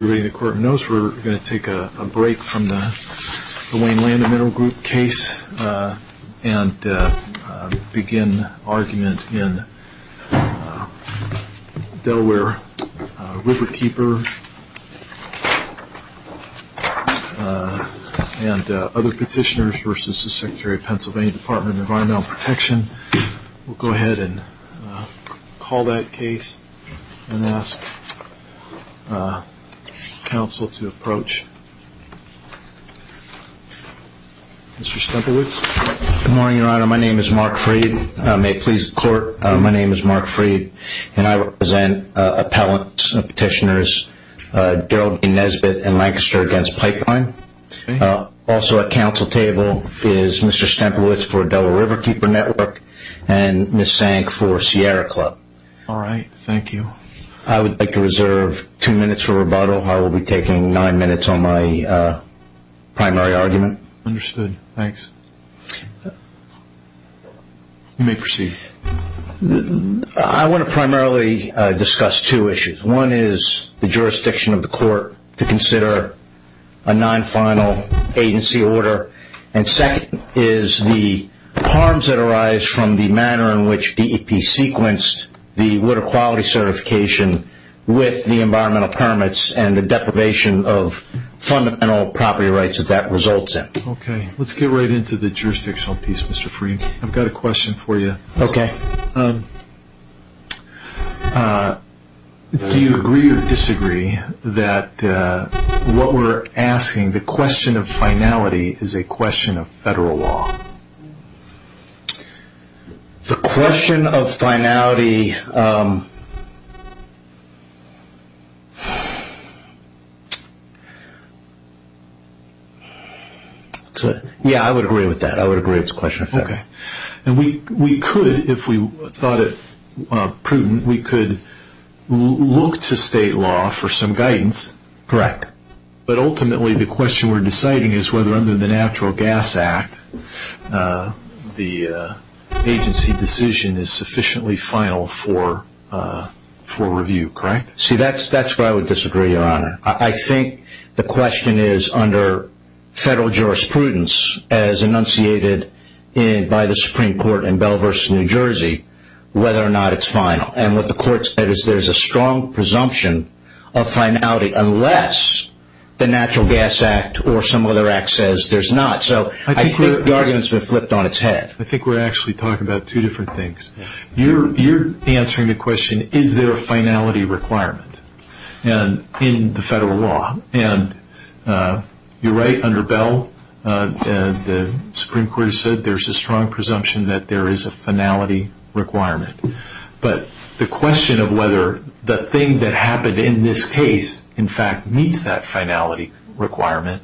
We're going to take a break from the Wayne Land and Mineral Group case and begin argument in Delaware Riverkeeper and other petitioners v. Sec PA Dept of Environmental Protection. We'll go ahead and call that case and ask counsel to approach Mr. Stemplewitz. Good morning, your honor. My name is Mark Freed. May it please the court, my name is Mark Freed. And I represent appellants and petitioners Geraldine Nesbitt and Lancaster against Pipeline. Also at counsel table is Mr. Stemplewitz for Delaware Riverkeeper Network and Ms. Sank for Sierra Club. All right. Thank you. I would like to reserve two minutes for rebuttal. I will be taking nine minutes on my primary argument. Understood. Thanks. You may proceed. I want to primarily discuss two issues. One is the jurisdiction of the court to consider a non-final agency order. And second is the harms that arise from the manner in which DEP sequenced the water quality certification with the environmental permits and the deprivation of fundamental property rights that that results in. Okay. Let's get right into the jurisdictional piece, Mr. Freed. I've got a question for you. Okay. Do you agree or disagree that what we're asking, the question of finality, is a question of federal law? The question of finality, yeah, I would agree with that. I would agree it's a question of federal law. Okay. And we could, if we thought it prudent, we could look to state law for some guidance. Correct. But ultimately, the question we're deciding is whether under the Natural Gas Act, the agency decision is sufficiently final for review, correct? See, that's where I would disagree, Your Honor. I think the question is under federal jurisprudence, as enunciated by the Supreme Court in Belvers, New Jersey, whether or not it's final. And what the court said is there's a strong presumption of finality unless the Natural Gas Act or some other act says there's not. So I think the argument's been flipped on its head. I think we're actually talking about two different things. You're answering the question, is there a finality requirement in the federal law? And you're right, under Bell, the Supreme Court has said there's a strong presumption that there is a finality requirement. But the question of whether the thing that happened in this case, in fact, meets that finality requirement,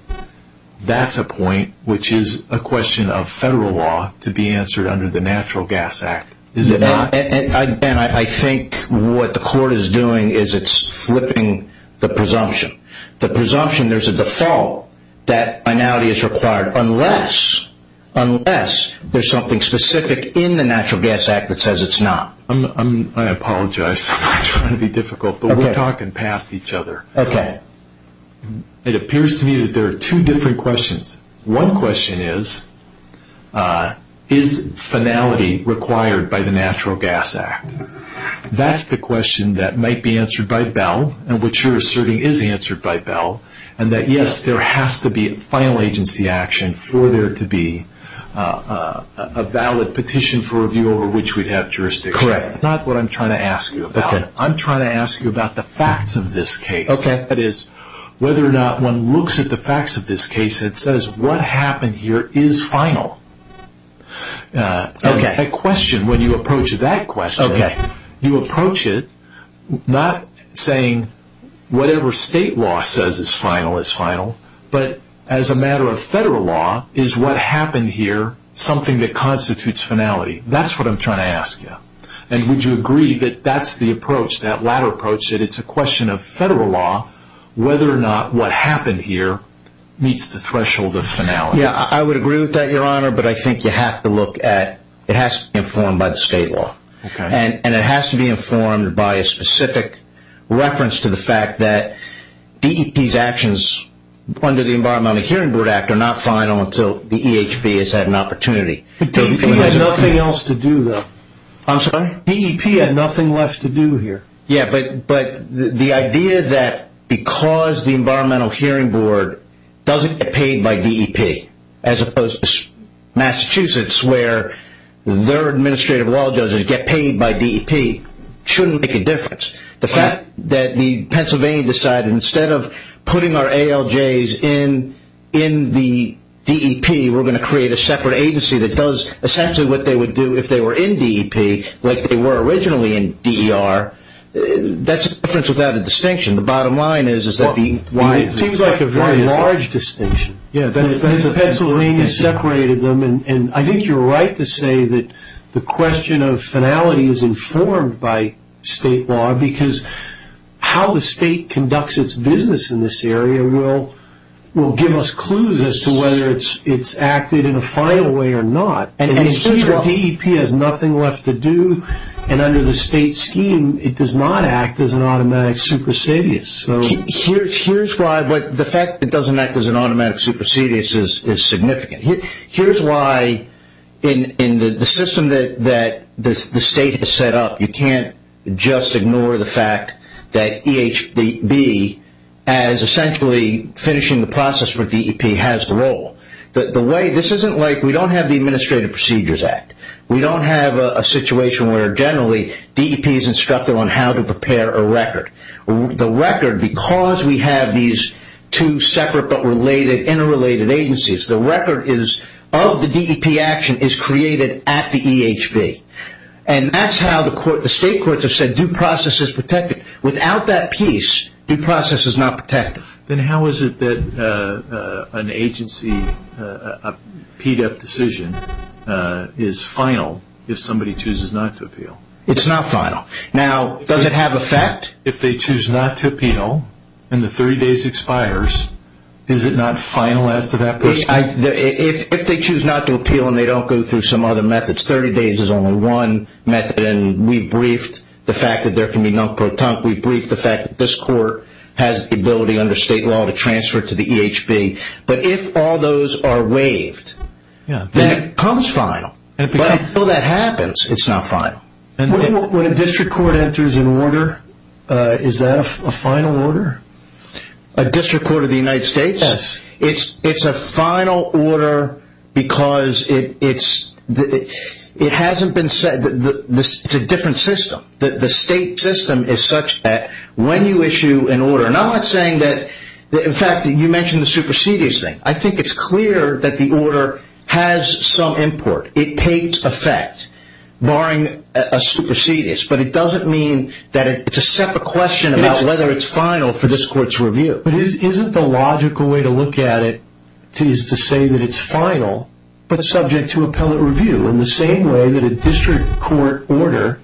that's a point which is a question of federal law to be answered under the Natural Gas Act. And I think what the court is doing is it's flipping the presumption. The presumption there's a default that finality is required unless there's something specific in the Natural Gas Act that says it's not. I apologize. I'm trying to be difficult, but we're talking past each other. It appears to me that there are two different questions. One question is, is finality required by the Natural Gas Act? That's the question that might be answered by Bell, and what you're asserting is answered by Bell, and that yes, there has to be a final agency action for there to be a valid petition for review over which we'd have jurisdiction. Correct. That's not what I'm trying to ask you about. I'm trying to ask you about the facts of this case. That is, whether or not one looks at the facts of this case and says what happened here is final. That question, when you approach that question, you approach it not saying whatever state law says is final is final, but as a matter of federal law, is what happened here something that constitutes finality? That's what I'm trying to ask you. And would you agree that that's the approach, that latter approach, that it's a question of federal law whether or not what happened here meets the threshold of finality? Yeah, I would agree with that, Your Honor, but I think you have to look at, it has to be informed by the state law, and it has to be informed by a specific reference to the fact that DEP's actions under the Environmental Hearing Board Act are not final until the EHB has had an opportunity. DEP had nothing else to do, though. I'm sorry? DEP had nothing left to do here. Yeah, but the idea that because the Environmental Hearing Board doesn't get paid by DEP, as opposed to Massachusetts where their administrative law judges get paid by DEP, shouldn't make a difference. The fact that the Pennsylvania decided instead of putting our ALJs in the DEP, we're going to create a separate agency that does essentially what they would do if they were in DEP, like they were originally in DER, that's a difference without a distinction. The bottom line is that the... It seems like a very large distinction. Yeah, that's... The Pennsylvania separated them, and I think you're right to say that the question of finality is informed by state law because how the state conducts its business in this area will give us clues as to whether it's acted in a final way or not. DEP has nothing left to do, and under the state scheme, it does not act as an automatic supersedious. Here's why the fact that it doesn't act as an automatic supersedious is significant. Here's why in the system that the state has set up, you can't just ignore the fact that EHB, as essentially finishing the process for DEP, has the role. This isn't like we don't have the Administrative Procedures Act. We don't have a situation where generally DEP is instructed on how to prepare a record. The record, because we have these two separate but interrelated agencies, the record of the DEP action is created at the EHB. And that's how the state courts have said due process is protected. Without that piece, due process is not protected. Then how is it that an agency, a PDEP decision, is final if somebody chooses not to appeal? It's not final. Now, does it have effect? If they choose not to appeal and the 30 days expires, is it not final as to that person? If they choose not to appeal and they don't go through some other methods, 30 days is only one method, and we've briefed the fact that there can be non-proton, we've briefed the fact that this court has the ability under state law to transfer to the EHB. But if all those are waived, that becomes final. But until that happens, it's not final. When a district court enters an order, is that a final order? A district court of the United States? Yes. It's a final order because it hasn't been said. It's a different system. The state system is such that when you issue an order, and I'm not saying that, in fact, you mentioned the supersedious thing. I think it's clear that the order has some import. It takes effect, barring a supersedious. But it doesn't mean that it's a separate question about whether it's final for this court's review. But isn't the logical way to look at it is to say that it's final but subject to appellate review, in the same way that a district court order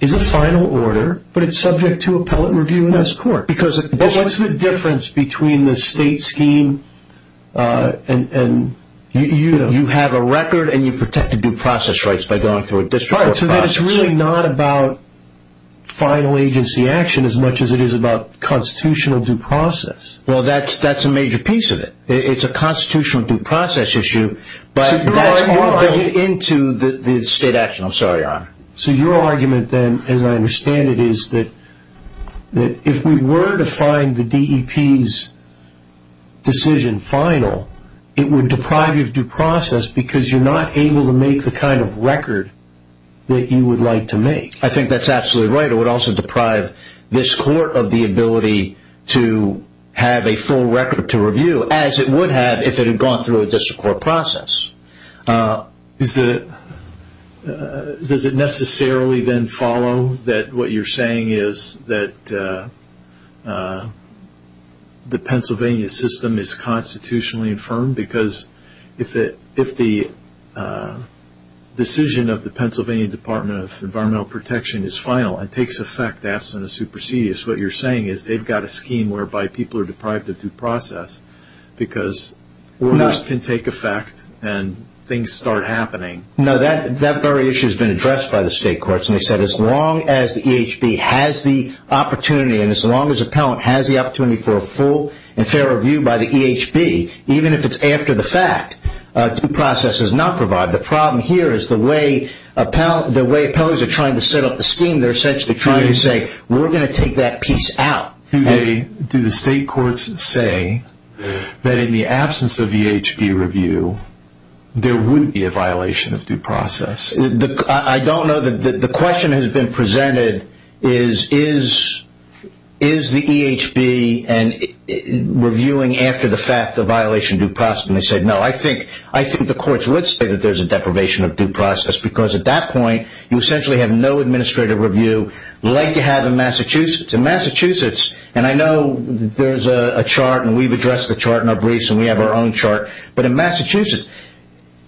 is a final order, but it's subject to appellate review in this court? Because what's the difference between the state scheme and you have a record and you protect the due process rights by going through a district court process? All right, so then it's really not about final agency action as much as it is about constitutional due process. Well, that's a major piece of it. It's a constitutional due process issue, but that's all built into the state action. I'm sorry, Your Honor. So your argument then, as I understand it, is that if we were to find the DEP's decision final, it would deprive you of due process because you're not able to make the kind of record that you would like to make. I think that's absolutely right. It would also deprive this court of the ability to have a full record to review, as it would have if it had gone through a district court process. Does it necessarily then follow that what you're saying is that the Pennsylvania system is constitutionally infirmed? Because if the decision of the Pennsylvania Department of Environmental Protection is final and takes effect absent a supersedious, what you're saying is they've got a scheme whereby people are deprived of due process because orders can take effect and things start happening. No, that very issue has been addressed by the state courts, and they said as long as the EHB has the opportunity and as long as an appellant has the opportunity for a full and fair review by the EHB, even if it's after the fact, due process is not provided. The problem here is the way appellants are trying to set up the scheme, they're essentially trying to say, we're going to take that piece out. Do the state courts say that in the absence of EHB review, there would be a violation of due process? I don't know. The question that has been presented is, is the EHB reviewing after the fact a violation of due process? And they said, no. I think the courts would say that there's a deprivation of due process because at that point, and I know there's a chart and we've addressed the chart in our briefs and we have our own chart, but in Massachusetts,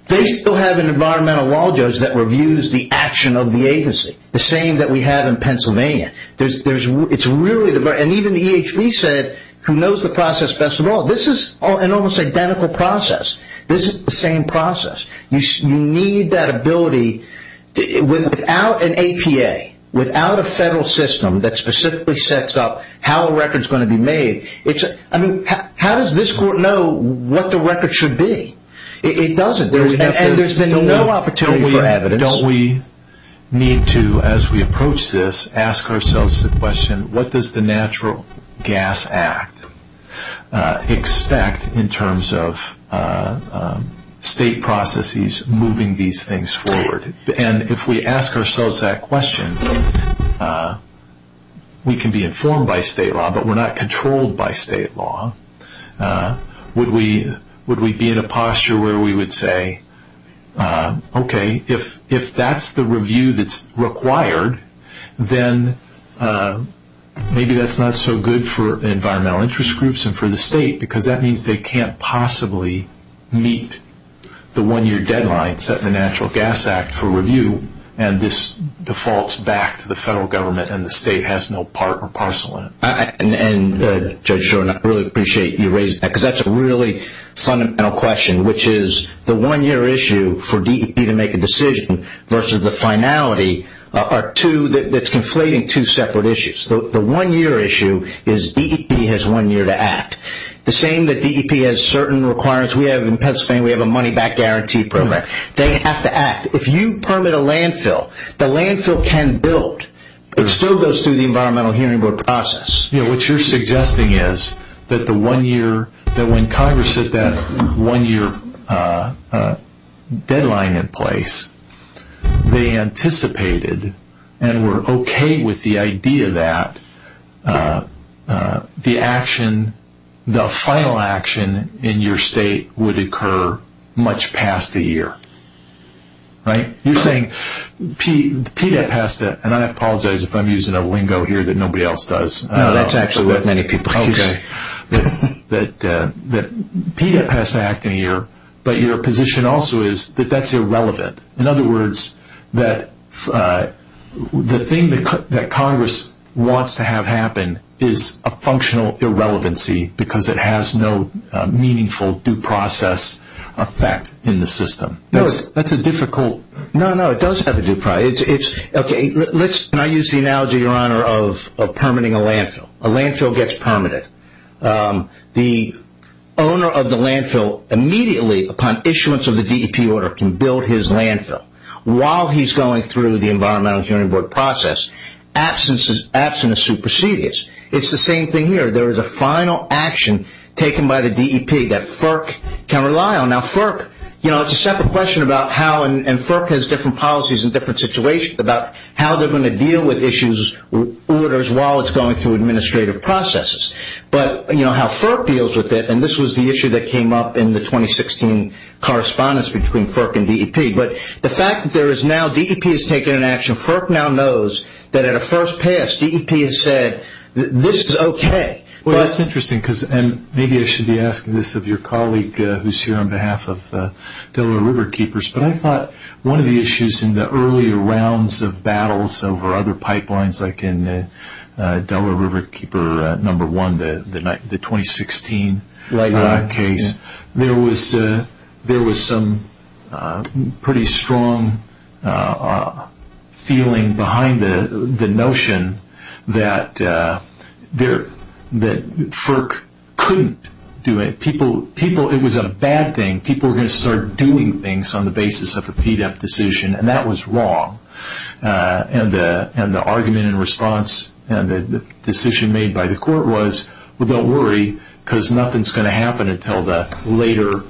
they still have an environmental law judge that reviews the action of the agency, the same that we have in Pennsylvania. And even the EHB said, who knows the process best of all? This is an almost identical process. This is the same process. You need that ability. Without an APA, without a federal system that specifically sets up how a record is going to be made, how does this court know what the record should be? It doesn't. And there's been no opportunity for evidence. And don't we need to, as we approach this, ask ourselves the question, what does the Natural Gas Act expect in terms of state processes moving these things forward? And if we ask ourselves that question, we can be informed by state law, but we're not controlled by state law. Would we be in a posture where we would say, okay, if that's the review that's required, then maybe that's not so good for environmental interest groups and for the state because that means they can't possibly meet the one-year deadline set in the Natural Gas Act for review and this defaults back to the federal government and the state has no part or parcel in it. And Judge Shore, I really appreciate you raising that because that's a really fundamental question, which is the one-year issue for DEP to make a decision versus the finality that's conflating two separate issues. The one-year issue is DEP has one year to act. The same that DEP has certain requirements. We have in Pennsylvania, we have a money-back guarantee program. They have to act. If you permit a landfill, the landfill can build. It still goes through the environmental hearing process. What you're suggesting is that when Congress set that one-year deadline in place, they anticipated and were okay with the idea that the action, the final action in your state would occur much past the year. You're saying PDEP has to, and I apologize if I'm using a lingo here that nobody else does. No, that's actually what many people use. Okay. That PDEP has to act in a year, but your position also is that that's irrelevant. In other words, the thing that Congress wants to have happen is a functional irrelevancy because it has no meaningful due process effect in the system. That's a difficult. No, no. It does have a due process. Okay. Can I use the analogy, Your Honor, of permitting a landfill? A landfill gets permitted. The owner of the landfill immediately upon issuance of the DEP order can build his landfill. While he's going through the environmental hearing board process, absence is supersedious. It's the same thing here. There is a final action taken by the DEP that FERC can rely on. Now, FERC, it's a separate question about how, and FERC has different policies in different situations, about how they're going to deal with issues, orders, while it's going through administrative processes. But how FERC deals with it, and this was the issue that came up in the 2016 correspondence between FERC and DEP. But the fact that there is now, DEP has taken an action. FERC now knows that at a first pass, DEP has said, this is okay. Well, that's interesting because, and maybe I should be asking this of your colleague who's here on behalf of Delaware River Keepers, but I thought one of the issues in the earlier rounds of battles over other pipelines, like in Delaware River Keeper number one, the 2016 case, there was some pretty strong feeling behind the notion that FERC couldn't do it. It was a bad thing. People were going to start doing things on the basis of a PDEP decision, and that was wrong. And the argument in response, and the decision made by the court was, well, don't worry, because nothing's going to happen until the later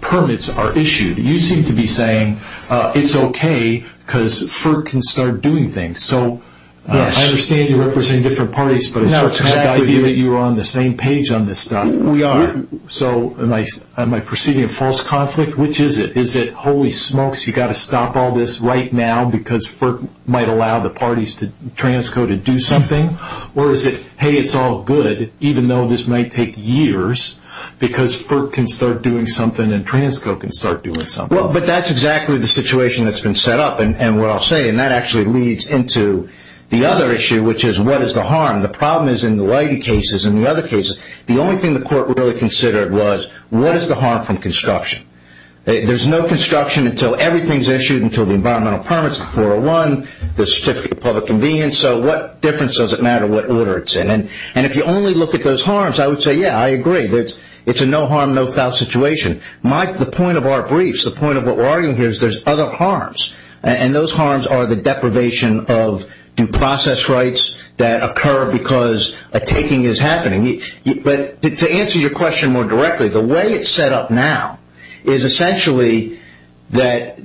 permits are issued. You seem to be saying, it's okay, because FERC can start doing things. So, I understand you represent different parties, but the fact that you're on the same page on this stuff. We are. So, am I perceiving a false conflict? Which is it? Is it, holy smokes, you've got to stop all this right now because FERC might allow the parties, TRANSCO, to do something? Or is it, hey, it's all good, even though this might take years, because FERC can start doing something and TRANSCO can start doing something? Well, but that's exactly the situation that's been set up, and what I'll say, and that actually leads into the other issue, which is, what is the harm? The problem is, in the Leidy cases and the other cases, the only thing the court really considered was, what is the harm from construction? There's no construction until everything's issued, until the environmental permits, the 401, the certificate of public convenience. So, what difference does it matter what order it's in? And if you only look at those harms, I would say, yeah, I agree. It's a no harm, no foul situation. The point of our briefs, the point of what we're arguing here, is there's other harms, and those harms are the deprivation of due process rights that occur because a taking is happening. But to answer your question more directly, the way it's set up now is essentially that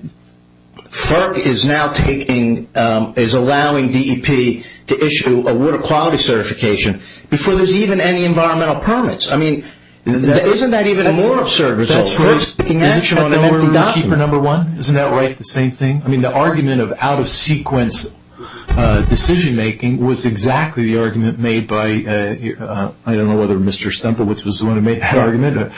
FERC is now taking, is allowing DEP to issue a water quality certification before there's even any environmental permits. I mean, isn't that even a more absurd result? That's right. Isn't that right, the same thing? I mean, the argument of out-of-sequence decision making was exactly the argument made by, I don't know whether Mr. Stempelitz was the one who made that argument, but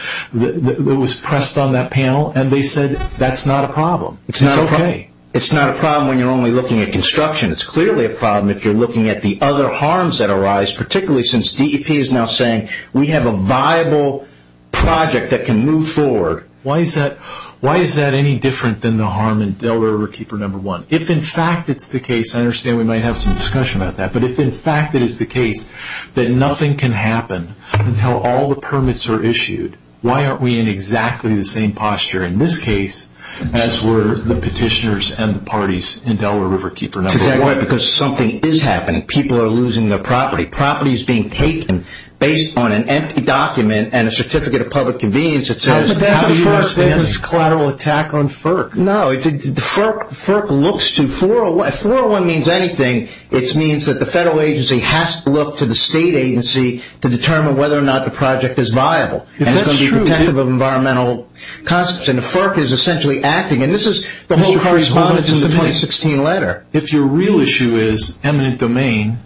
it was pressed on that panel, and they said that's not a problem. It's not a problem. It's not a problem when you're only looking at construction. It's clearly a problem if you're looking at the other harms that arise, particularly since DEP is now saying we have a viable project that can move forward. Why is that any different than the harm in Delaware Riverkeeper No. 1? If, in fact, it's the case, I understand we might have some discussion about that, but if, in fact, it is the case that nothing can happen until all the permits are issued, why aren't we in exactly the same posture in this case as were the petitioners and the parties in Delaware Riverkeeper No. 1? That's exactly right, because something is happening. People are losing their property. Property is being taken based on an empty document and a certificate of public convenience that says, how do you understand this? That's a FERC-based collateral attack on FERC. No, FERC looks to 401. 401 means anything. It means that the federal agency has to look to the state agency to determine whether or not the project is viable, and it's going to be protective of environmental concepts, and the FERC is essentially acting. This is the whole correspondence in the 2016 letter. If your real issue is eminent domain,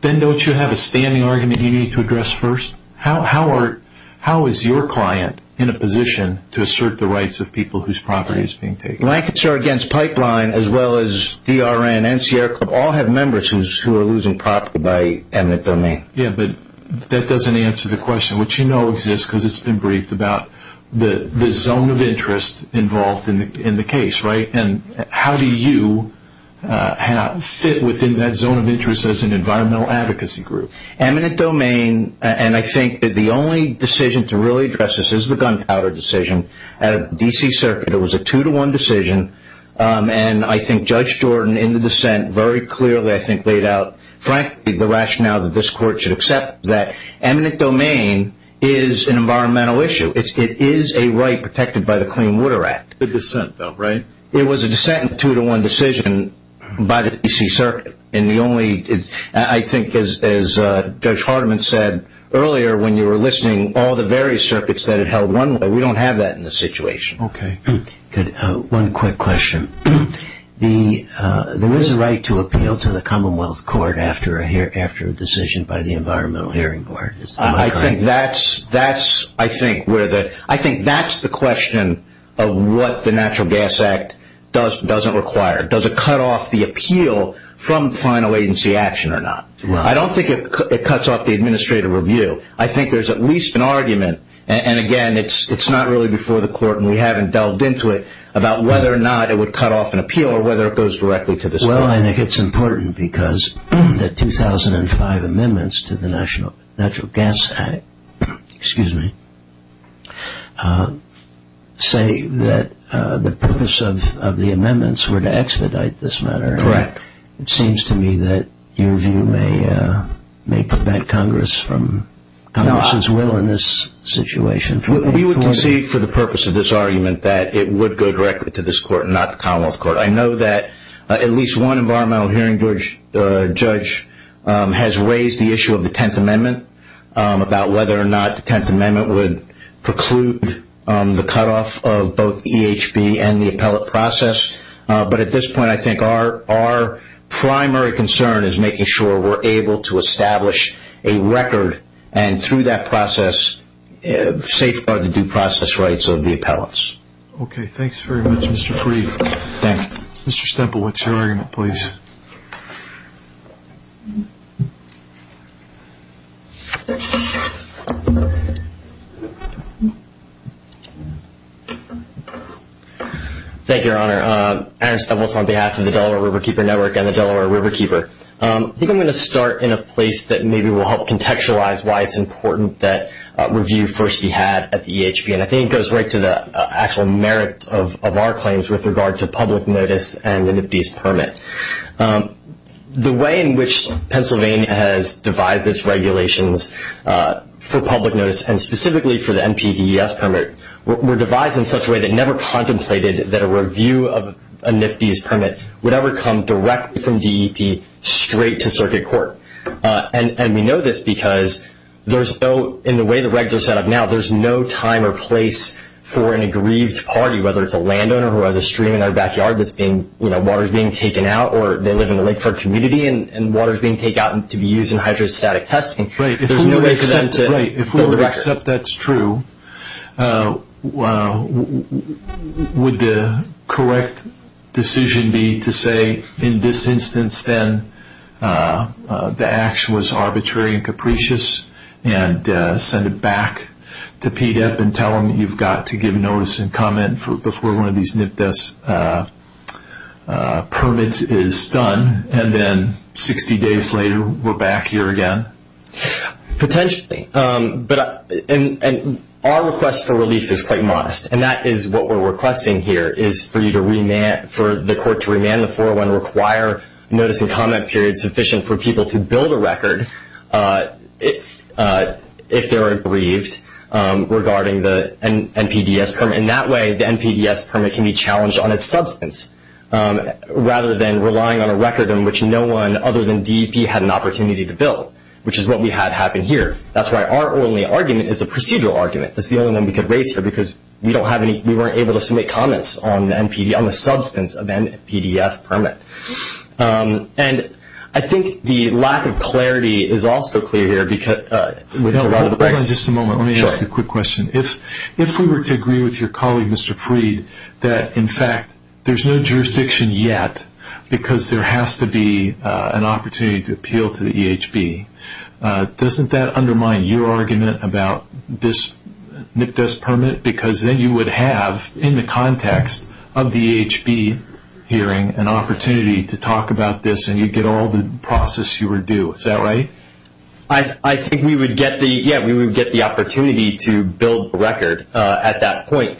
then don't you have a standing argument you need to address first? How is your client in a position to assert the rights of people whose property is being taken? Lancaster Against Pipeline, as well as DRN and Sierra Club, all have members who are losing property by eminent domain. Yeah, but that doesn't answer the question, which you know exists because it's been briefed about the zone of interest involved in the case, right? And how do you fit within that zone of interest as an environmental advocacy group? Eminent domain, and I think the only decision to really address this is the gunpowder decision. At a D.C. circuit, it was a two-to-one decision, and I think Judge Jordan in the dissent very clearly, I think, laid out, frankly, the rationale that this court should accept that eminent domain is an environmental issue. It is a right protected by the Clean Water Act. The dissent, though, right? It was a dissent in a two-to-one decision by the D.C. circuit, and I think as Judge Hardiman said earlier when you were listening, all the various circuits that it held one way, we don't have that in this situation. Okay, good. One quick question. There is a right to appeal to the Commonwealth Court after a decision by the Environmental Hearing Board. I think that's the question of what the Natural Gas Act doesn't require. Does it cut off the appeal from final agency action or not? I don't think it cuts off the administrative review. I think there's at least an argument, and again, it's not really before the court, and we haven't delved into it, about whether or not it would cut off an appeal or whether it goes directly to this court. Well, I think it's important because the 2005 amendments to the Natural Gas Act say that the purpose of the amendments were to expedite this matter. Correct. It seems to me that your view may prevent Congress's will in this situation. We would concede for the purpose of this argument that it would go directly to this court and not the Commonwealth Court. I know that at least one Environmental Hearing Judge has raised the issue of the Tenth Amendment, about whether or not the Tenth Amendment would preclude the cutoff of both EHB and the appellate process. But at this point, I think our primary concern is making sure we're able to establish a record and through that process, safeguard the due process rights of the appellants. Okay. Thanks very much, Mr. Fried. Thank you. Mr. Stemple, what's your argument, please? Thank you, Your Honor. Aaron Stemple is on behalf of the Delaware Riverkeeper Network and the Delaware Riverkeeper. I think I'm going to start in a place that maybe will help contextualize why it's important that review first be had at the EHB. I think it goes right to the actual merits of our claims with regard to public notice and the NPDES permit. The way in which Pennsylvania has devised its regulations for public notice and specifically for the NPDES permit were devised in such a way that never contemplated that a review of a NPDES permit would ever come directly from DEP straight to circuit court. And we know this because in the way the regs are set up now, there's no time or place for an aggrieved party, whether it's a landowner who has a stream in their backyard that's being – water's being taken out or they live in the Lakeford community and water's being taken out to be used in hydrostatic testing. There's no way for them to build a record. Except that's true, would the correct decision be to say in this instance then the action was arbitrary and capricious and send it back to PDEP and tell them you've got to give notice and comment before one of these NPDES permits is done and then 60 days later we're back here again? Potentially, but our request for relief is quite modest and that is what we're requesting here is for the court to remand the 401 and require notice and comment period sufficient for people to build a record if they're aggrieved regarding the NPDES permit. And that way the NPDES permit can be challenged on its substance rather than relying on a record in which no one other than DEP had an opportunity to build. Which is what we had happen here. That's why our only argument is a procedural argument. It's the only one we could raise here because we weren't able to submit comments on the substance of NPDES permit. And I think the lack of clarity is also clear here. Hold on just a moment. Let me ask you a quick question. If we were to agree with your colleague, Mr. Freed, that in fact there's no jurisdiction yet because there has to be an opportunity to appeal to the EHB, doesn't that undermine your argument about this NPDES permit? Because then you would have, in the context of the EHB hearing, an opportunity to talk about this and you'd get all the process you were due. Is that right? I think we would get the opportunity to build a record at that point.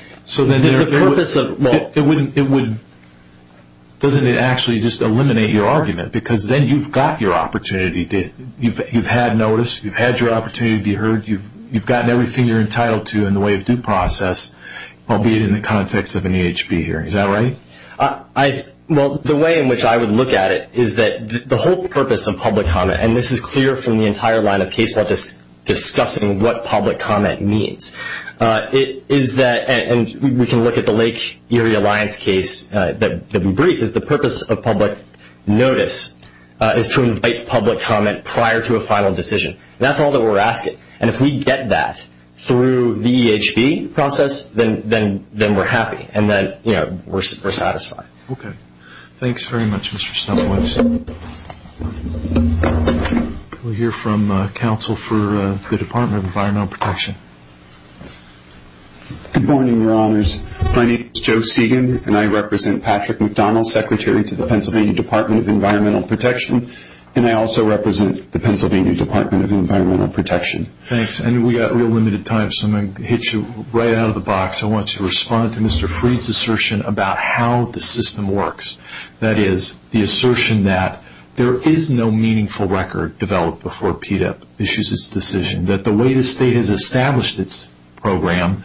Doesn't it actually just eliminate your argument? Because then you've got your opportunity. You've had notice. You've had your opportunity to be heard. You've gotten everything you're entitled to in the way of due process, albeit in the context of an EHB hearing. Is that right? Well, the way in which I would look at it is that the whole purpose of public comment, and this is clear from the entire line of case law discussing what public comment means, is that, and we can look at the Lake Erie Alliance case that we briefed, is the purpose of public notice is to invite public comment prior to a final decision. That's all that we're asking. And if we get that through the EHB process, then we're happy and then we're satisfied. Okay. Thanks very much, Mr. Stumpwits. We'll hear from counsel for the Department of Environmental Protection. Good morning, Your Honors. My name is Joe Segan, and I represent Patrick McDonald, Secretary to the Pennsylvania Department of Environmental Protection, and I also represent the Pennsylvania Department of Environmental Protection. Thanks. And we've got real limited time, so I'm going to hit you right out of the box. I want you to respond to Mr. Freed's assertion about how the system works, that is, the assertion that there is no meaningful record developed before PDEP issues its decision, that the way the state has established its program,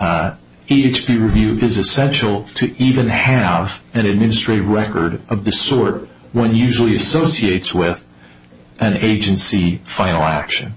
EHB review is essential to even have an administrative record of the sort one usually associates with an agency final action.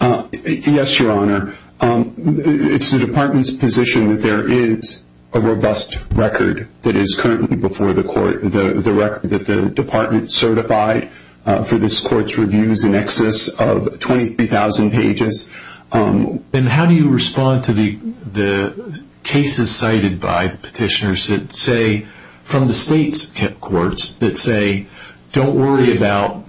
Yes, Your Honor. It's the department's position that there is a robust record that is currently before the court, the record that the department certified for this court's reviews in excess of 23,000 pages. And how do you respond to the cases cited by petitioners that say, from the state's courts, that say don't worry about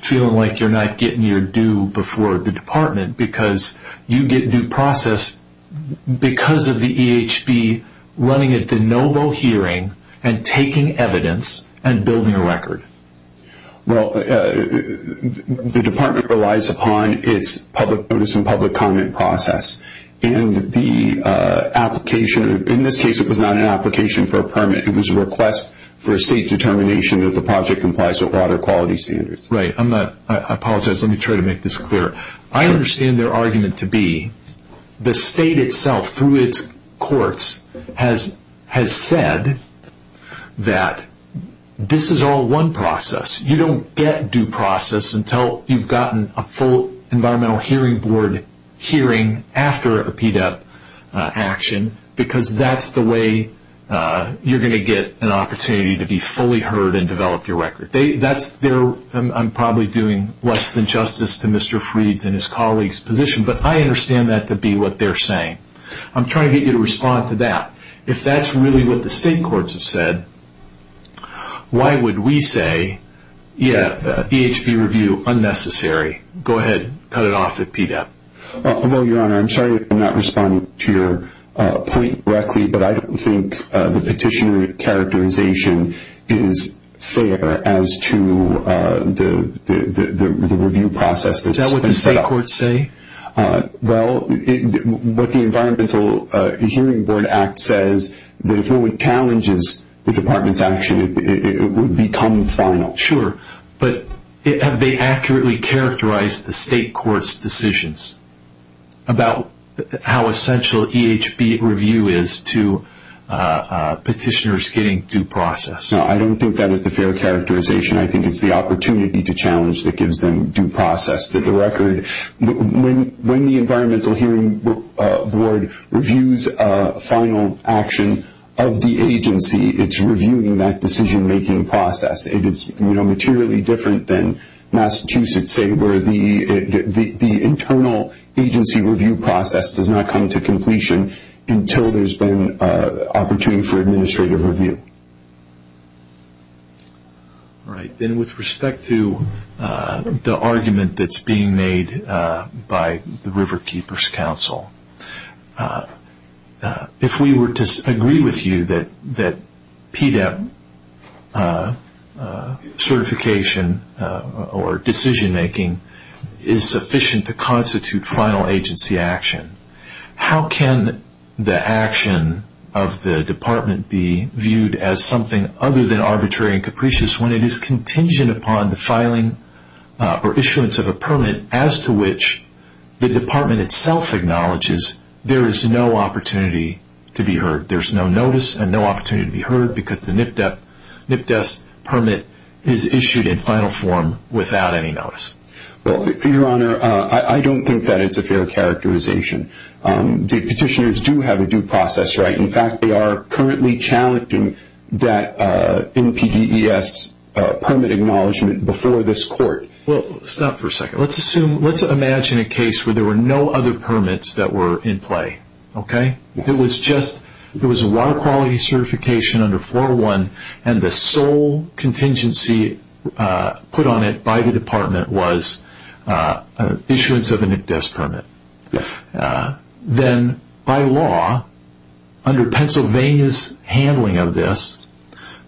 feeling like you're not getting your due before the department because you get due process because of the EHB running a de novo hearing and taking evidence and building a record? Well, the department relies upon its public notice and public comment process. In this case, it was not an application for a permit. It was a request for a state determination that the project complies with water quality standards. Right. I apologize. Let me try to make this clear. I understand their argument to be the state itself, through its courts, has said that this is all one process. You don't get due process until you've gotten a full environmental hearing board hearing after a PDEP action because that's the way you're going to get an opportunity to be fully heard and develop your record. I'm probably doing less than justice to Mr. Freed's and his colleagues' position, but I understand that to be what they're saying. I'm trying to get you to respond to that. If that's really what the state courts have said, why would we say EHB review unnecessary? Go ahead. Cut it off at PDEP. Well, Your Honor, I'm sorry if I'm not responding to your point correctly, but I don't think the petitioner characterization is fair as to the review process that's been set up. Is that what the state courts say? Well, what the Environmental Hearing Board Act says, that if no one challenges the department's action, it would become final. Sure. But have they accurately characterized the state court's decisions about how essential EHB review is to petitioners getting due process? No, I don't think that is the fair characterization. I think it's the opportunity to challenge that gives them due process to the record. When the Environmental Hearing Board reviews a final action of the agency, it's reviewing that decision-making process. It is materially different than Massachusetts, say, where the internal agency review process does not come to completion until there's been opportunity for administrative review. All right. Then with respect to the argument that's being made by the River Keepers Council, if we were to agree with you that PDEP certification or decision-making is sufficient to constitute final agency action, how can the action of the department be viewed as something other than arbitrary and capricious when it is contingent upon the filing or issuance of a permit as to which the department itself acknowledges there is no opportunity to be heard, there's no notice and no opportunity to be heard because the NPDES permit is issued in final form without any notice? Well, Your Honor, I don't think that it's a fair characterization. The petitioners do have a due process right. In fact, they are currently challenging that NPDES permit acknowledgement before this court. Well, stop for a second. Let's imagine a case where there were no other permits that were in play. It was a water quality certification under 401 and the sole contingency put on it by the department was issuance of a NPDES permit. Then, by law, under Pennsylvania's handling of this,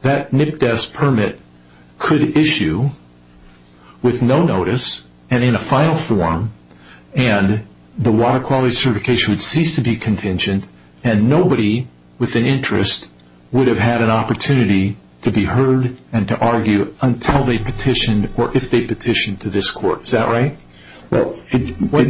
that NPDES permit could issue with no notice and in a final form and the water quality certification would cease to be contingent and nobody with an interest would have had an opportunity to be heard and to argue until they petitioned or if they petitioned to this court. Is that right?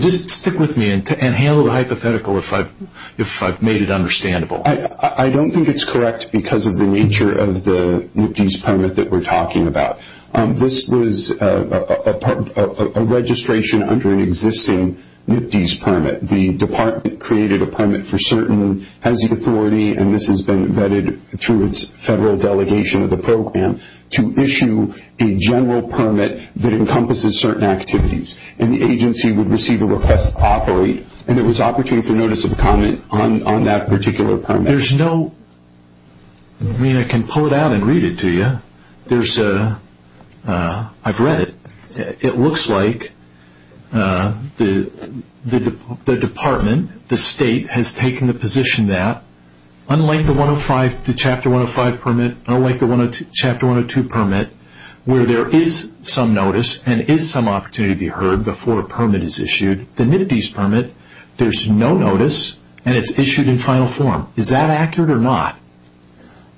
Just stick with me and handle the hypothetical if I've made it understandable. Well, I don't think it's correct because of the nature of the NPDES permit that we're talking about. This was a registration under an existing NPDES permit. The department created a permit for certain, has the authority, and this has been vetted through its federal delegation of the program, to issue a general permit that encompasses certain activities and the agency would receive a request to operate and there was opportunity for notice of comment on that particular permit. There's no, I mean I can pull it out and read it to you. There's a, I've read it. It looks like the department, the state, has taken the position that, unlike the Chapter 105 permit, unlike the Chapter 102 permit, where there is some notice and is some opportunity to be heard before a permit is issued, the NPDES permit, there's no notice and it's issued in final form. Is that accurate or not?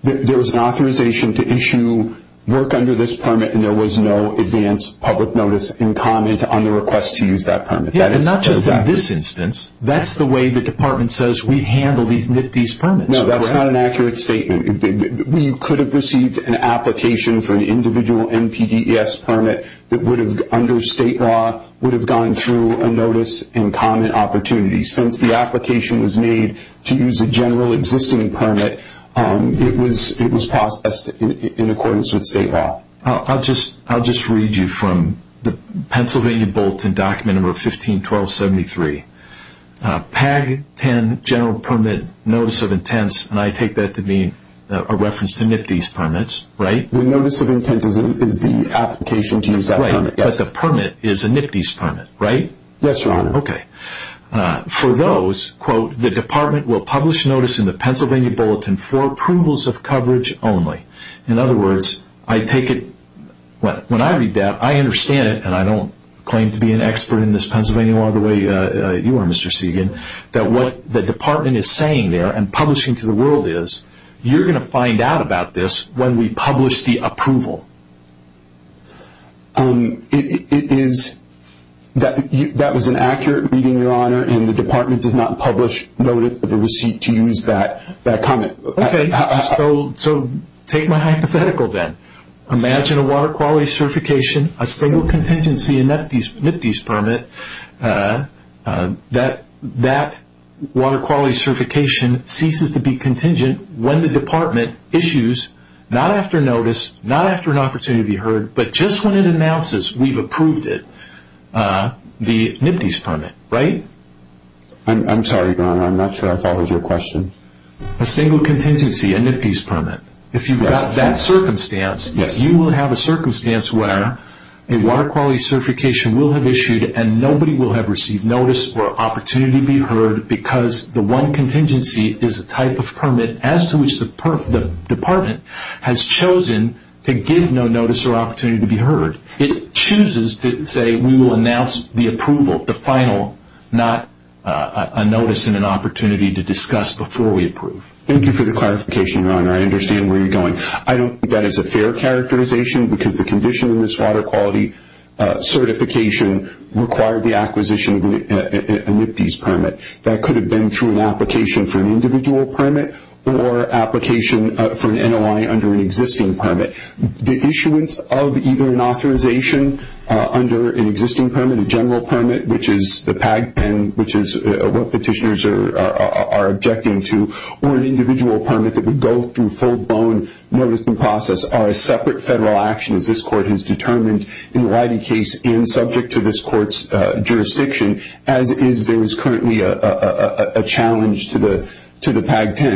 There was an authorization to issue work under this permit and there was no advance public notice in comment on the request to use that permit. Yeah, and not just in this instance. That's the way the department says we handle these NPDES permits. No, that's not an accurate statement. We could have received an application for an individual NPDES permit that would have, under state law, would have gone through a notice and comment opportunity. Since the application was made to use a general existing permit, it was processed in accordance with state law. I'll just read you from the Pennsylvania Bulletin Document Number 15-1273. PAG-10 General Permit Notice of Intents, and I take that to be a reference to NPDES permits, right? The notice of intent is the application to use that permit. Right, but the permit is a NPDES permit, right? Yes, Your Honor. Okay. For those, quote, the department will publish notice in the Pennsylvania Bulletin for approvals of coverage only. In other words, I take it, when I read that, I understand it, and I don't claim to be an expert in this Pennsylvania law the way you are, Mr. Segan, that what the department is saying there and publishing to the world is, you're going to find out about this when we publish the approval. That was an accurate reading, Your Honor, and the department does not publish notice of the receipt to use that comment. Okay, so take my hypothetical then. Imagine a water quality certification, a single contingency NPDES permit. That water quality certification ceases to be contingent when the department issues, not after notice, not after an opportunity to be heard, but just when it announces we've approved it, the NPDES permit, right? I'm sorry, Your Honor, I'm not sure I followed your question. A single contingency, a NPDES permit. If you've got that circumstance, and nobody will have received notice or opportunity to be heard because the one contingency is a type of permit as to which the department has chosen to give no notice or opportunity to be heard. It chooses to say we will announce the approval, the final, not a notice and an opportunity to discuss before we approve. Thank you for the clarification, Your Honor. I understand where you're going. I don't think that is a fair characterization because the condition in this water quality certification required the acquisition of a NPDES permit. That could have been through an application for an individual permit or application for an NOI under an existing permit. The issuance of either an authorization under an existing permit, a general permit, which is the PAG-10, which is what petitioners are objecting to, or an individual permit that would go through full-blown notice and process are separate federal actions this Court has determined in the Leidy case and subject to this Court's jurisdiction, as is there is currently a challenge to the PAG-10.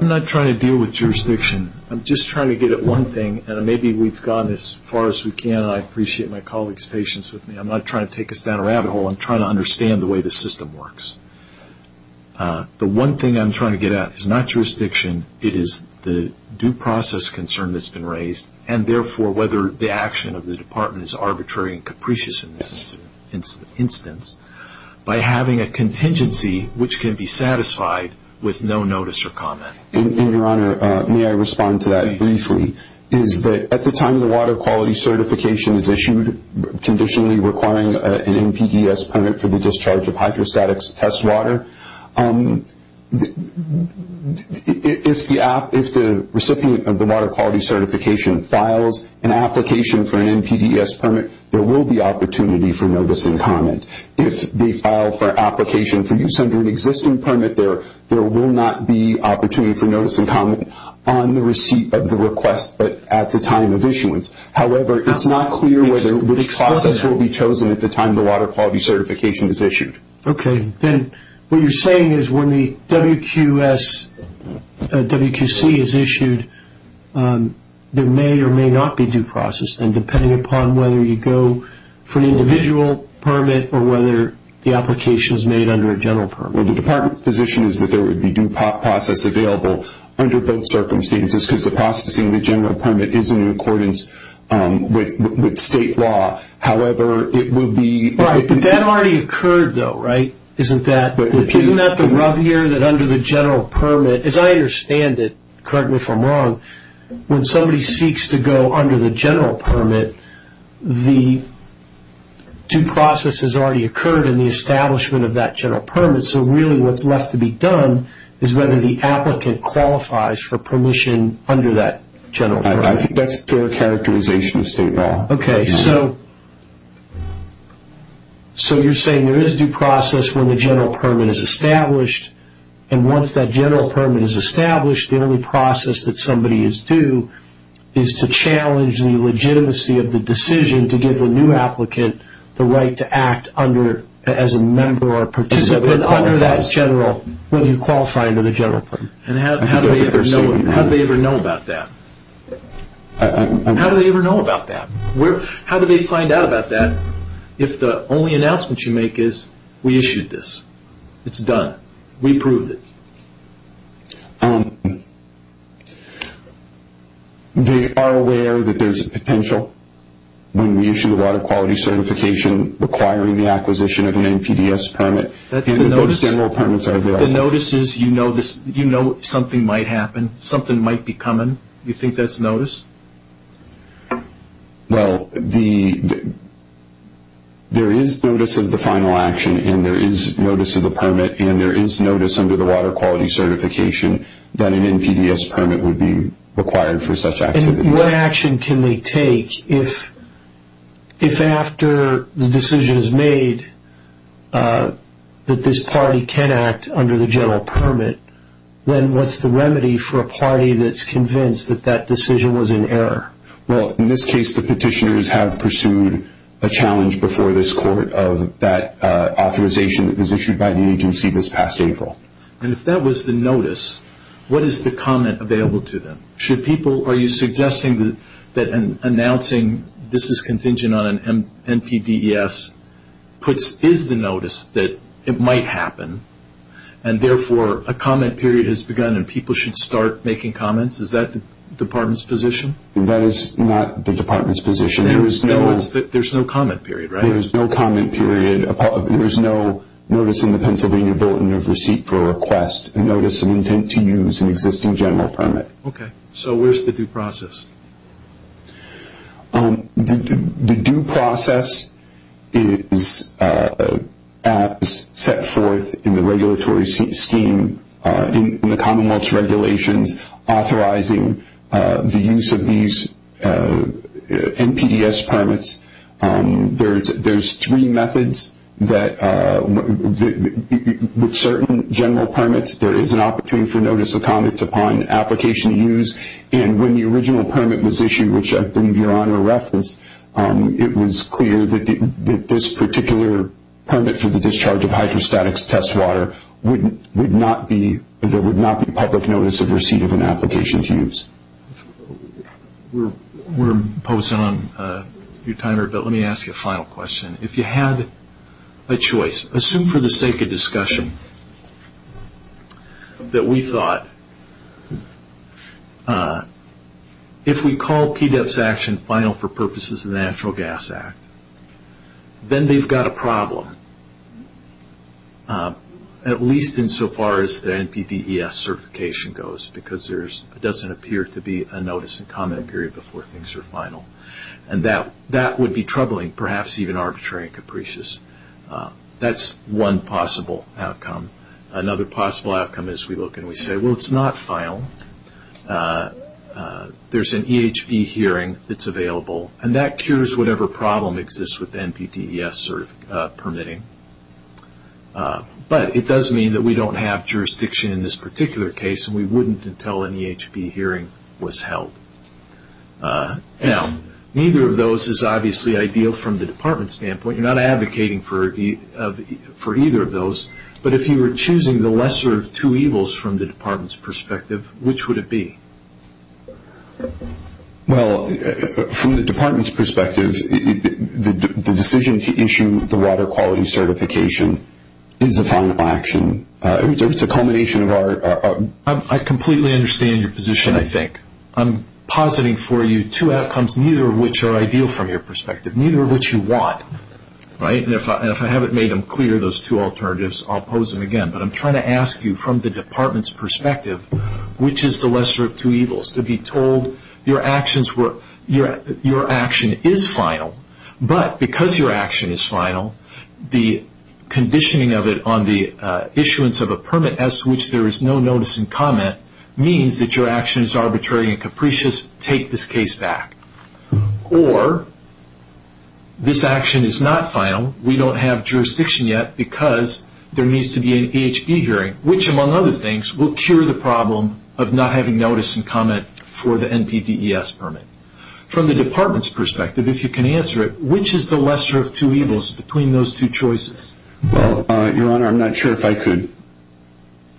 I'm not trying to deal with jurisdiction. I'm just trying to get at one thing, and maybe we've gone as far as we can. I appreciate my colleagues' patience with me. I'm not trying to take us down a rabbit hole. I'm trying to understand the way the system works. The one thing I'm trying to get at is not jurisdiction. It is the due process concern that's been raised, and therefore whether the action of the Department is arbitrary and capricious in this instance by having a contingency which can be satisfied with no notice or comment. Your Honor, may I respond to that briefly? At the time the water quality certification is issued, you're conditionally requiring an NPDES permit for the discharge of hydrostatics test water. If the recipient of the water quality certification files an application for an NPDES permit, there will be opportunity for notice and comment. If they file for application for use under an existing permit, there will not be opportunity for notice and comment on the receipt of the request, but at the time of issuance. However, it's not clear which process will be chosen at the time the water quality certification is issued. Okay. Then what you're saying is when the WQC is issued, there may or may not be due process then, depending upon whether you go for an individual permit or whether the application is made under a general permit. Well, the Department position is that there would be due process available under both circumstances because the processing of the general permit is in accordance with state law. However, it would be- Right, but that already occurred though, right? Isn't that the rub here that under the general permit, as I understand it, correct me if I'm wrong, when somebody seeks to go under the general permit, the due process has already occurred in the establishment of that general permit. So really what's left to be done is whether the applicant qualifies for permission under that general permit. I think that's a clear characterization of state law. Okay. So you're saying there is due process when the general permit is established, and once that general permit is established, the only process that somebody is due is to challenge the legitimacy of the decision to give the new applicant the right to act as a member or participant under that general, whether you qualify under the general permit. And how do they ever know about that? How do they ever know about that? How do they find out about that if the only announcement you make is, we issued this, it's done, we approved it? They are aware that there's a potential when we issue the water quality certification requiring the acquisition of an NPDES permit. And those general permits are there. The notice is you know something might happen, something might be coming. You think that's notice? Well, there is notice of the final action, and there is notice of the permit, and there is notice under the water quality certification that an NPDES permit would be required for such activities. And what action can they take if after the decision is made that this party can act under the general permit, then what's the remedy for a party that's convinced that that decision was in error? Well, in this case, the petitioners have pursued a challenge before this court of that authorization that was issued by the agency this past April. And if that was the notice, what is the comment available to them? Are you suggesting that announcing this is contingent on an NPDES is the notice that it might happen, and therefore a comment period has begun and people should start making comments? Is that the department's position? That is not the department's position. There's no comment period, right? There is no comment period. There is no notice in the Pennsylvania Bulletin of Receipt for Request, a notice of intent to use an existing general permit. Okay. So where's the due process? The due process is as set forth in the regulatory scheme in the Commonwealth's regulations authorizing the use of these NPDES permits. There's three methods that with certain general permits, there is an opportunity for notice of comment upon application to use. And when the original permit was issued, which I believe Your Honor referenced, it was clear that this particular permit for the discharge of hydrostatics test water would not be public notice of receipt of an application to use. We're posting on your timer, but let me ask you a final question. If you had a choice, assume for the sake of discussion that we thought, if we call PDEP's action final for purposes of the Natural Gas Act, then they've got a problem, at least insofar as the NPDES certification goes, because there doesn't appear to be a notice of comment period before things are final. And that would be troubling, perhaps even arbitrary and capricious. That's one possible outcome. Another possible outcome is we look and we say, well, it's not final. There's an EHB hearing that's available, and that cures whatever problem exists with the NPDES permitting. But it does mean that we don't have jurisdiction in this particular case, and we wouldn't until an EHB hearing was held. Now, neither of those is obviously ideal from the Department's standpoint. You're not advocating for either of those. But if you were choosing the lesser of two evils from the Department's perspective, which would it be? Well, from the Department's perspective, the decision to issue the water quality certification is a final action. It's a culmination of our... I completely understand your position, I think. I'm positing for you two outcomes, neither of which are ideal from your perspective, neither of which you want. And if I haven't made them clear, those two alternatives, I'll pose them again. But I'm trying to ask you, from the Department's perspective, which is the lesser of two evils? To be told your action is final, but because your action is final, the conditioning of it on the issuance of a permit as to which there is no notice and comment means that your action is arbitrary and capricious. Take this case back. Or this action is not final. We don't have jurisdiction yet because there needs to be an EHB hearing, which among other things will cure the problem of not having notice and comment for the NPDES permit. From the Department's perspective, if you can answer it, which is the lesser of two evils between those two choices? Well, Your Honor, I'm not sure if I could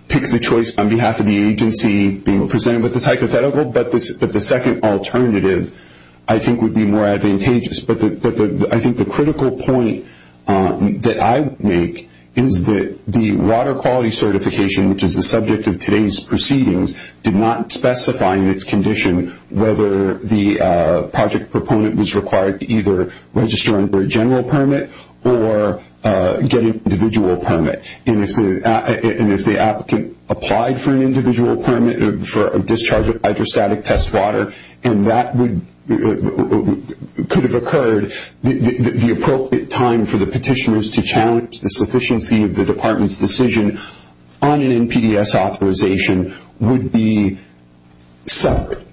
pick the choice on behalf of the agency being presented with the psychothetical, but the second alternative I think would be more advantageous. I think the critical point that I would make is that the water quality certification, which is the subject of today's proceedings, did not specify in its condition whether the project proponent was required to either register under a general permit or get an individual permit. And if the applicant applied for an individual permit for a discharge of hydrostatic test water, and that could have occurred, the appropriate time for the petitioners to challenge the sufficiency of the Department's decision on an NPDES authorization would be separate.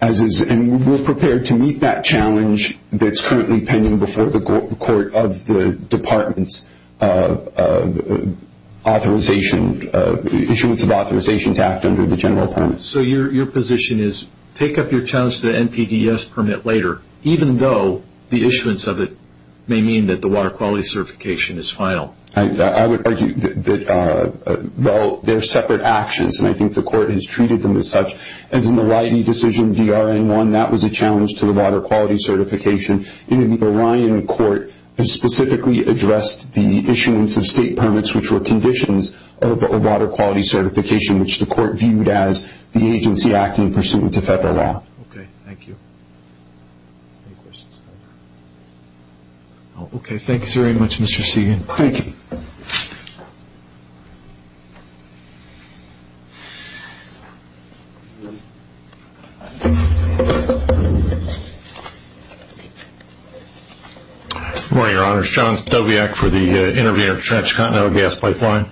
And we're prepared to meet that challenge that's currently pending before the court of the Department's authorization, issuance of authorization to act under the general permit. So your position is take up your challenge to the NPDES permit later, even though the issuance of it may mean that the water quality certification is final? I would argue that, well, they're separate actions, and I think the court has treated them as such. As in the Leiden decision, DRN1, that was a challenge to the water quality certification. The Orion court specifically addressed the issuance of state permits, which were conditions of a water quality certification, which the court viewed as the agency acting pursuant to federal law. Okay, thank you. Okay, thanks very much, Mr. Segan. Thank you. Good morning, Your Honors. John Stobiak for the Intervener Transcontinental Gas Pipeline.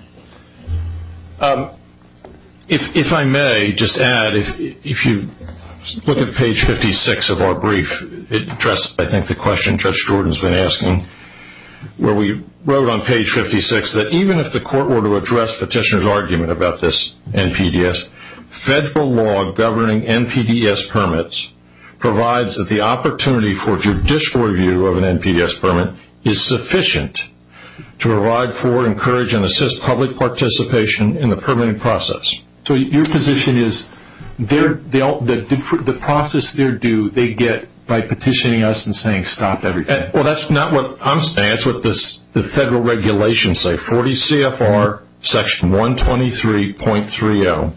If I may just add, if you look at page 56 of our brief, it addresses I think the question Judge Jordan's been asking, where we wrote on page 56 that even if the court were to address petitioner's argument about this NPDES, federal law governing NPDES permits provides that the opportunity for judicial review of an NPDES permit is sufficient to provide for, encourage, and assist public participation in the permitting process. So your position is the process they're due, they get by petitioning us and saying stop everything? Well, that's not what I'm saying. That's what the federal regulations say, 40 CFR section 123.30,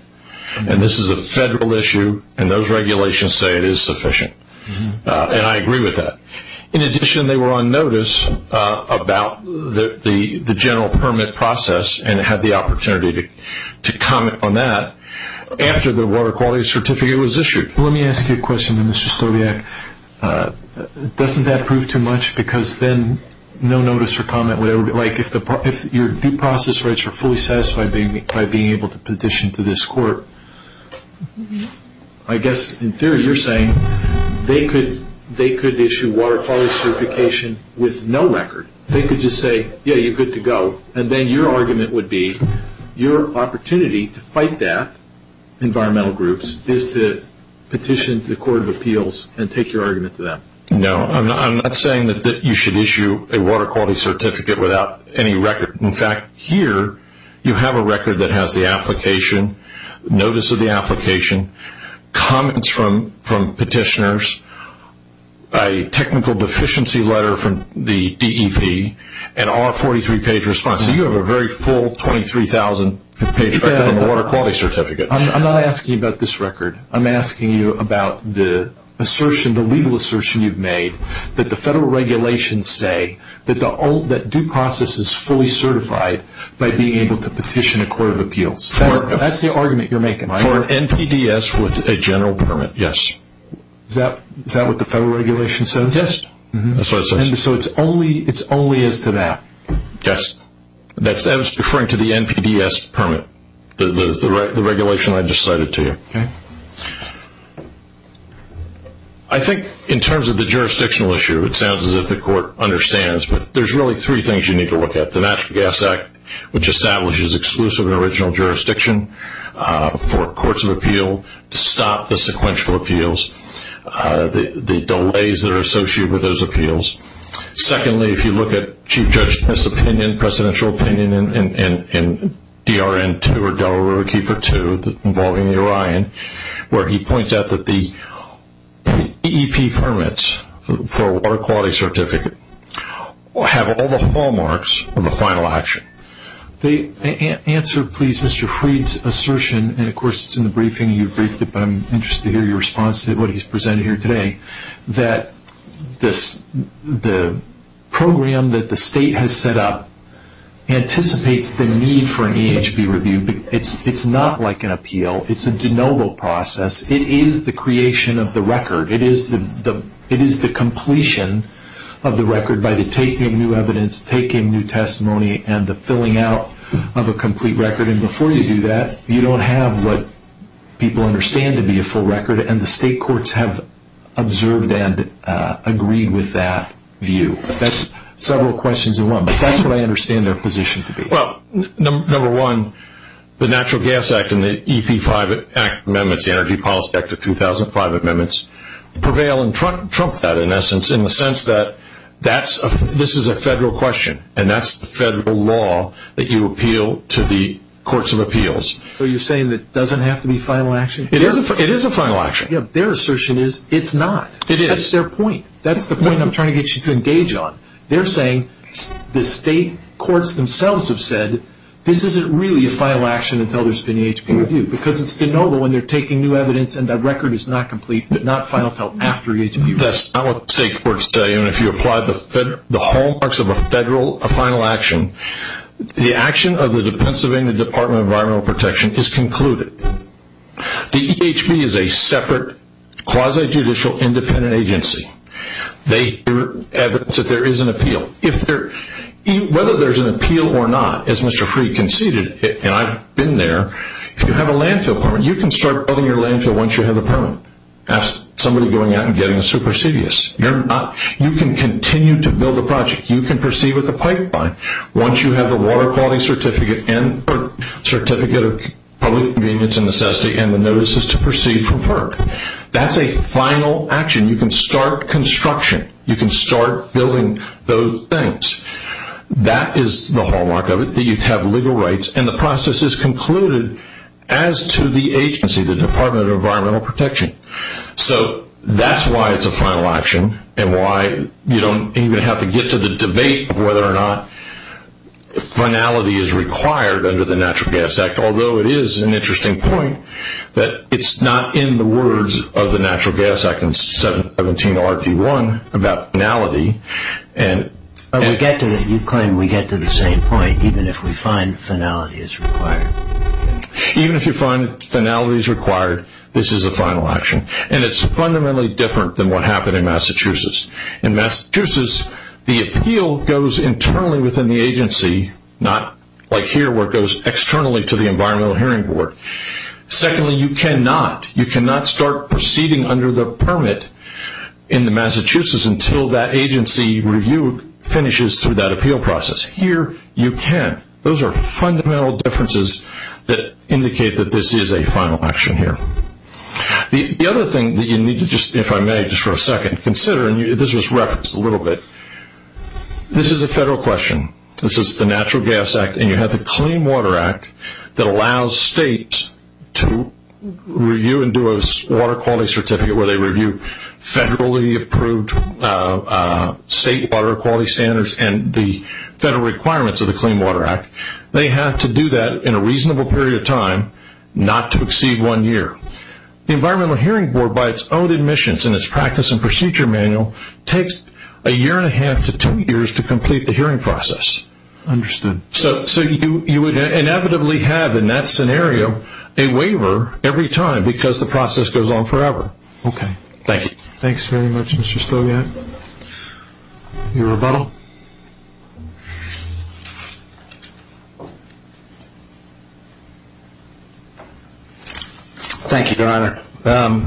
and this is a federal issue and those regulations say it is sufficient, and I agree with that. In addition, they were on notice about the general permit process and had the opportunity to comment on that after the water quality certificate was issued. Let me ask you a question, Mr. Stobiak. Doesn't that prove too much because then no notice or comment, like if your due process rights are fully satisfied by being able to petition to this court, I guess in theory you're saying they could issue water quality certification with no record. They could just say, yeah, you're good to go, and then your argument would be your opportunity to fight that, environmental groups, is to petition to the court of appeals and take your argument to them. No, I'm not saying that you should issue a water quality certificate without any record. In fact, here you have a record that has the application, notice of the application, comments from petitioners, a technical deficiency letter from the DEP, and all 43 page response. So you have a very full 23,000 page record on the water quality certificate. I'm not asking you about this record. I'm asking you about the legal assertion you've made that the federal regulations say that due process is fully certified by being able to petition a court of appeals. That's the argument you're making. For NPDES with a general permit, yes. Is that what the federal regulation says? Yes, that's what it says. So it's only as to that? Yes, that's referring to the NPDES permit, the regulation I just cited to you. Okay. I think in terms of the jurisdictional issue, it sounds as if the court understands, but there's really three things you need to look at. The Natural Gas Act, which establishes exclusive and original jurisdiction for courts of appeal, to stop the sequential appeals, the delays that are associated with those appeals. Secondly, if you look at Chief Judge's opinion, presidential opinion in DRN2 or Delaware Riverkeeper 2 involving the Orion, where he points out that the DEP permits for a water quality certificate have all the hallmarks of a final action. The answer, please, Mr. Freed's assertion, and of course it's in the briefing, you briefed it, but I'm interested to hear your response to what he's presented here today, that the program that the state has set up anticipates the need for an EHB review. It's not like an appeal. It's a de novo process. It is the creation of the record. It is the completion of the record by the taking of new evidence, taking new testimony, and the filling out of a complete record. Before you do that, you don't have what people understand to be a full record, and the state courts have observed and agreed with that view. That's several questions in one, but that's what I understand their position to be. Well, number one, the Natural Gas Act and the EP5 Act amendments, the Energy Policy Act of 2005 amendments, prevail and trump that, in essence, in the sense that this is a federal question, and that's the federal law that you appeal to the courts of appeals. So you're saying it doesn't have to be final action? It is a final action. Their assertion is it's not. It is. That's their point. That's the point I'm trying to get you to engage on. They're saying the state courts themselves have said this isn't really a final action until there's been an EHB review because it's de novo and they're taking new evidence and the record is not complete. It's not final until after EHB review. That's not what the state courts tell you. And if you apply the hallmarks of a final action, the action of the Pennsylvania Department of Environmental Protection is concluded. The EHB is a separate quasi-judicial independent agency. They hear evidence that there is an appeal. Whether there's an appeal or not, as Mr. Freed conceded, and I've been there, if you have a landfill permit, you can start building your landfill once you have a permit. That's somebody going out and getting a supersedious. You can continue to build a project. You can proceed with a pipeline once you have a water quality certificate or certificate of public convenience and necessity and the notices to proceed from FERC. That's a final action. You can start construction. You can start building those things. That is the hallmark of it, that you have legal rights, and the process is concluded as to the agency, the Department of Environmental Protection. So that's why it's a final action and why you don't even have to get to the debate of whether or not finality is required under the Natural Gas Act, although it is an interesting point that it's not in the words of the Natural Gas Act in 17RD1 about finality. You claim we get to the same point even if we find finality is required. Even if you find finality is required, this is a final action, and it's fundamentally different than what happened in Massachusetts. In Massachusetts, the appeal goes internally within the agency, not like here where it goes externally to the Environmental Hearing Board. Secondly, you cannot start proceeding under the permit in Massachusetts until that agency review finishes through that appeal process. Here, you can. Those are fundamental differences that indicate that this is a final action here. The other thing that you need to just, if I may, just for a second, consider, and this was referenced a little bit, this is a federal question. This is the Natural Gas Act, and you have the Clean Water Act that allows states to review and do a water quality certificate where they review federally approved state water quality standards and the federal requirements of the Clean Water Act. They have to do that in a reasonable period of time, not to exceed one year. The Environmental Hearing Board, by its own admissions and its practice and procedure manual, takes a year and a half to two years to complete the hearing process. Understood. So you would inevitably have in that scenario a waiver every time because the process goes on forever. Okay. Thank you. Thanks very much, Mr. Stogiat. Your rebuttal. Thank you, Your Honor.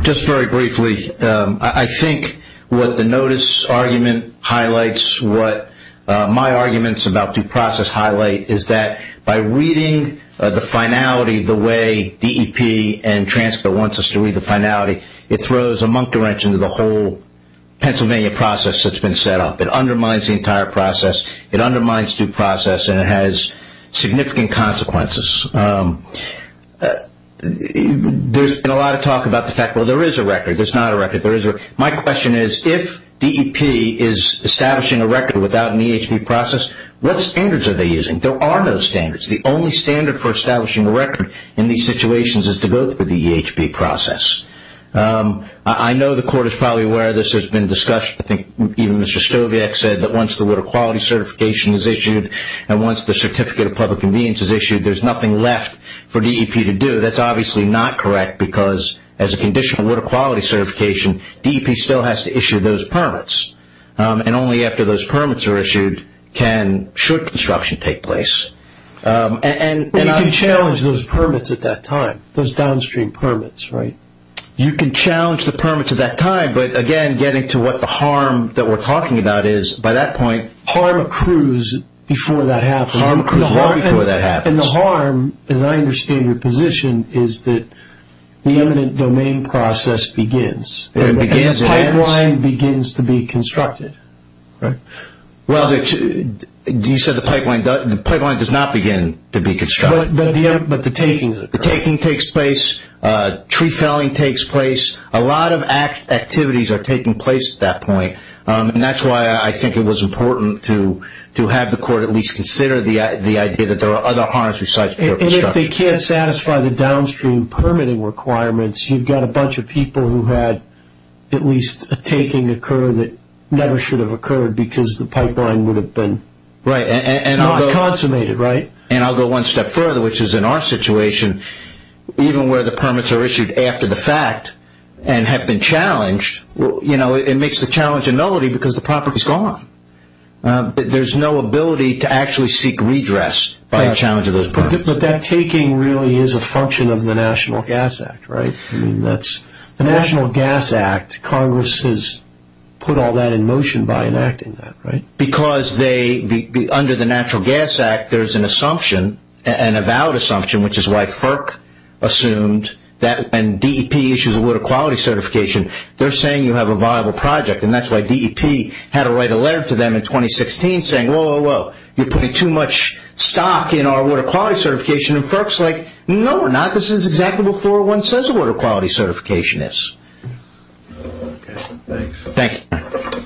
Just very briefly, I think what the notice argument highlights, what my arguments about due process highlight is that by reading the finality the way DEP and transcript wants us to read the finality, it throws a monk's wrench into the whole Pennsylvania process that's been set up. It undermines the entire process. It undermines due process, and it has significant consequences. There's been a lot of talk about the fact, well, there is a record. There's not a record. My question is, if DEP is establishing a record without an EHB process, what standards are they using? There are no standards. The only standard for establishing a record in these situations is to go through the EHB process. I know the Court is probably aware of this. There's been discussion. I think even Mr. Stogiat said that once the Water Quality Certification is issued and once the Certificate of Public Convenience is issued, there's nothing left for DEP to do. That's obviously not correct because as a conditional Water Quality Certification, DEP still has to issue those permits, and only after those permits are issued should construction take place. You can challenge those permits at that time, those downstream permits, right? You can challenge the permits at that time, but, again, getting to what the harm that we're talking about is, by that point- Harm accrues before that happens. Harm accrues long before that happens. The harm, as I understand your position, is that the eminent domain process begins. It begins and ends. The pipeline begins to be constructed, right? Well, you said the pipeline does not begin to be constructed. But the takings occur. The taking takes place. Tree felling takes place. A lot of activities are taking place at that point, and that's why I think it was important to have the Court at least consider the idea that there are other harms besides pure construction. And if they can't satisfy the downstream permitting requirements, you've got a bunch of people who had at least a taking occur that never should have occurred because the pipeline would have been not consummated, right? And I'll go one step further, which is in our situation, even where the permits are issued after the fact and have been challenged, you know, it makes the challenge a nullity because the property is gone. There's no ability to actually seek redress by a challenge of those permits. But that taking really is a function of the National Gas Act, right? The National Gas Act, Congress has put all that in motion by enacting that, right? Because under the Natural Gas Act, there's an assumption, an avowed assumption, which is why FERC assumed that when DEP issues a water quality certification, they're saying you have a viable project, and that's why DEP had to write a letter to them in 2016 saying, whoa, whoa, whoa, you're putting too much stock in our water quality certification. And FERC's like, no, we're not. This is exactly what 401 says a water quality certification is. Okay, thanks. Thank you.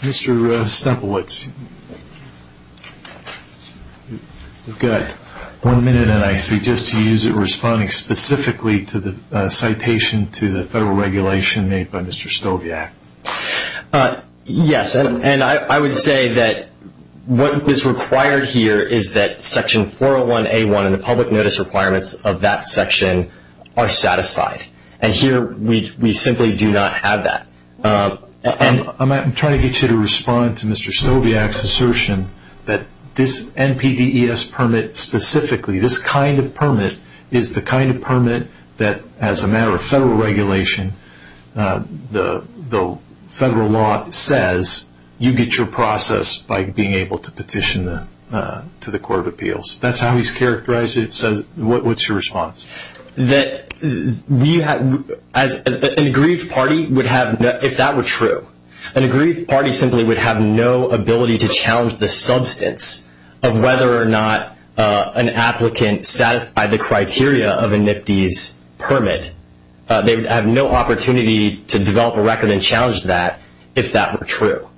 Mr. Stemplewitz, we've got one minute, and I suggest you use it responding specifically to the citation to the federal regulation made by Mr. Stoviak. Yes, and I would say that what is required here is that Section 401A1 and the public notice requirements of that section are satisfied. And here we simply do not have that. I'm trying to get you to respond to Mr. Stoviak's assertion that this NPDES permit specifically, this kind of permit is the kind of permit that, as a matter of federal regulation, the federal law says you get your process by being able to petition to the Court of Appeals. That's how he's characterized it. What's your response? An aggrieved party would have, if that were true, an aggrieved party simply would have no ability to challenge the substance of whether or not an applicant satisfied the criteria of a NPDES permit. They would have no opportunity to develop a record and challenge that if that were true.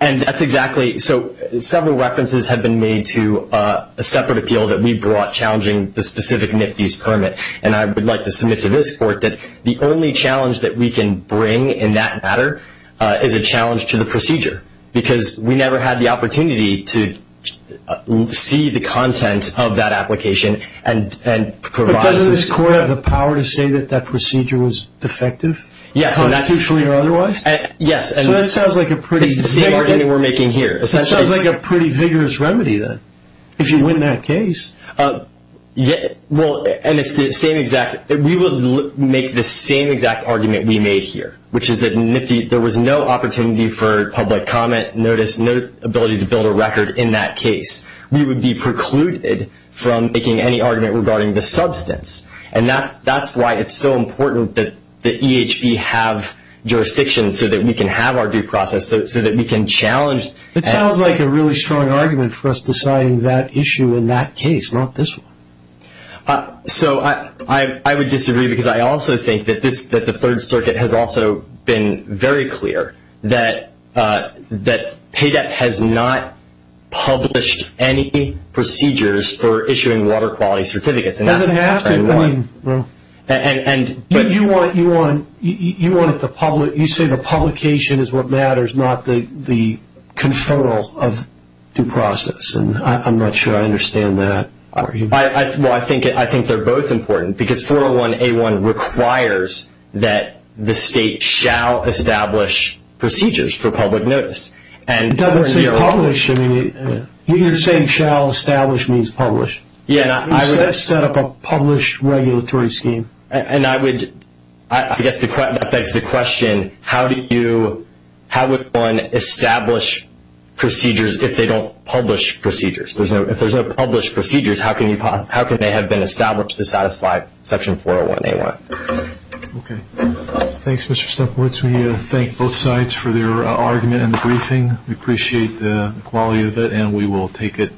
And that's exactly so. Several references have been made to a separate appeal that we brought challenging the specific NPDES permit, and I would like to submit to this Court that the only challenge that we can bring in that matter is a challenge to the procedure because we never had the opportunity to see the content of that application and provide... But doesn't this Court have the power to say that that procedure was defective? Yes. Constitutionally or otherwise? Yes. So that sounds like a pretty... It's the same argument we're making here. It sounds like a pretty vigorous remedy then, if you win that case. Well, and it's the same exact... we would make the same exact argument we made here, which is that there was no opportunity for public comment, notice, no ability to build a record in that case. We would be precluded from making any argument regarding the substance, and that's why it's so important that the EHB have jurisdiction so that we can have our due process, so that we can challenge... It sounds like a really strong argument for us deciding that issue in that case, not this one. So I would disagree because I also think that the Third Circuit has also been very clear that PAYDEP has not published any procedures for issuing water quality certificates. It doesn't have to. You say the publication is what matters, not the control of due process, and I'm not sure I understand that. Well, I think they're both important, because 401A1 requires that the state shall establish procedures for public notice. It doesn't say publish. You're just saying shall establish means publish. Yeah, and I would... You set up a published regulatory scheme. And I would... I guess that begs the question, how would one establish procedures if they don't publish procedures? If there's no published procedures, how can they have been established to satisfy Section 401A1? Okay. Thanks, Mr. Stepkowitz. We thank both sides for their argument in the briefing. We appreciate the quality of it, and we will take it.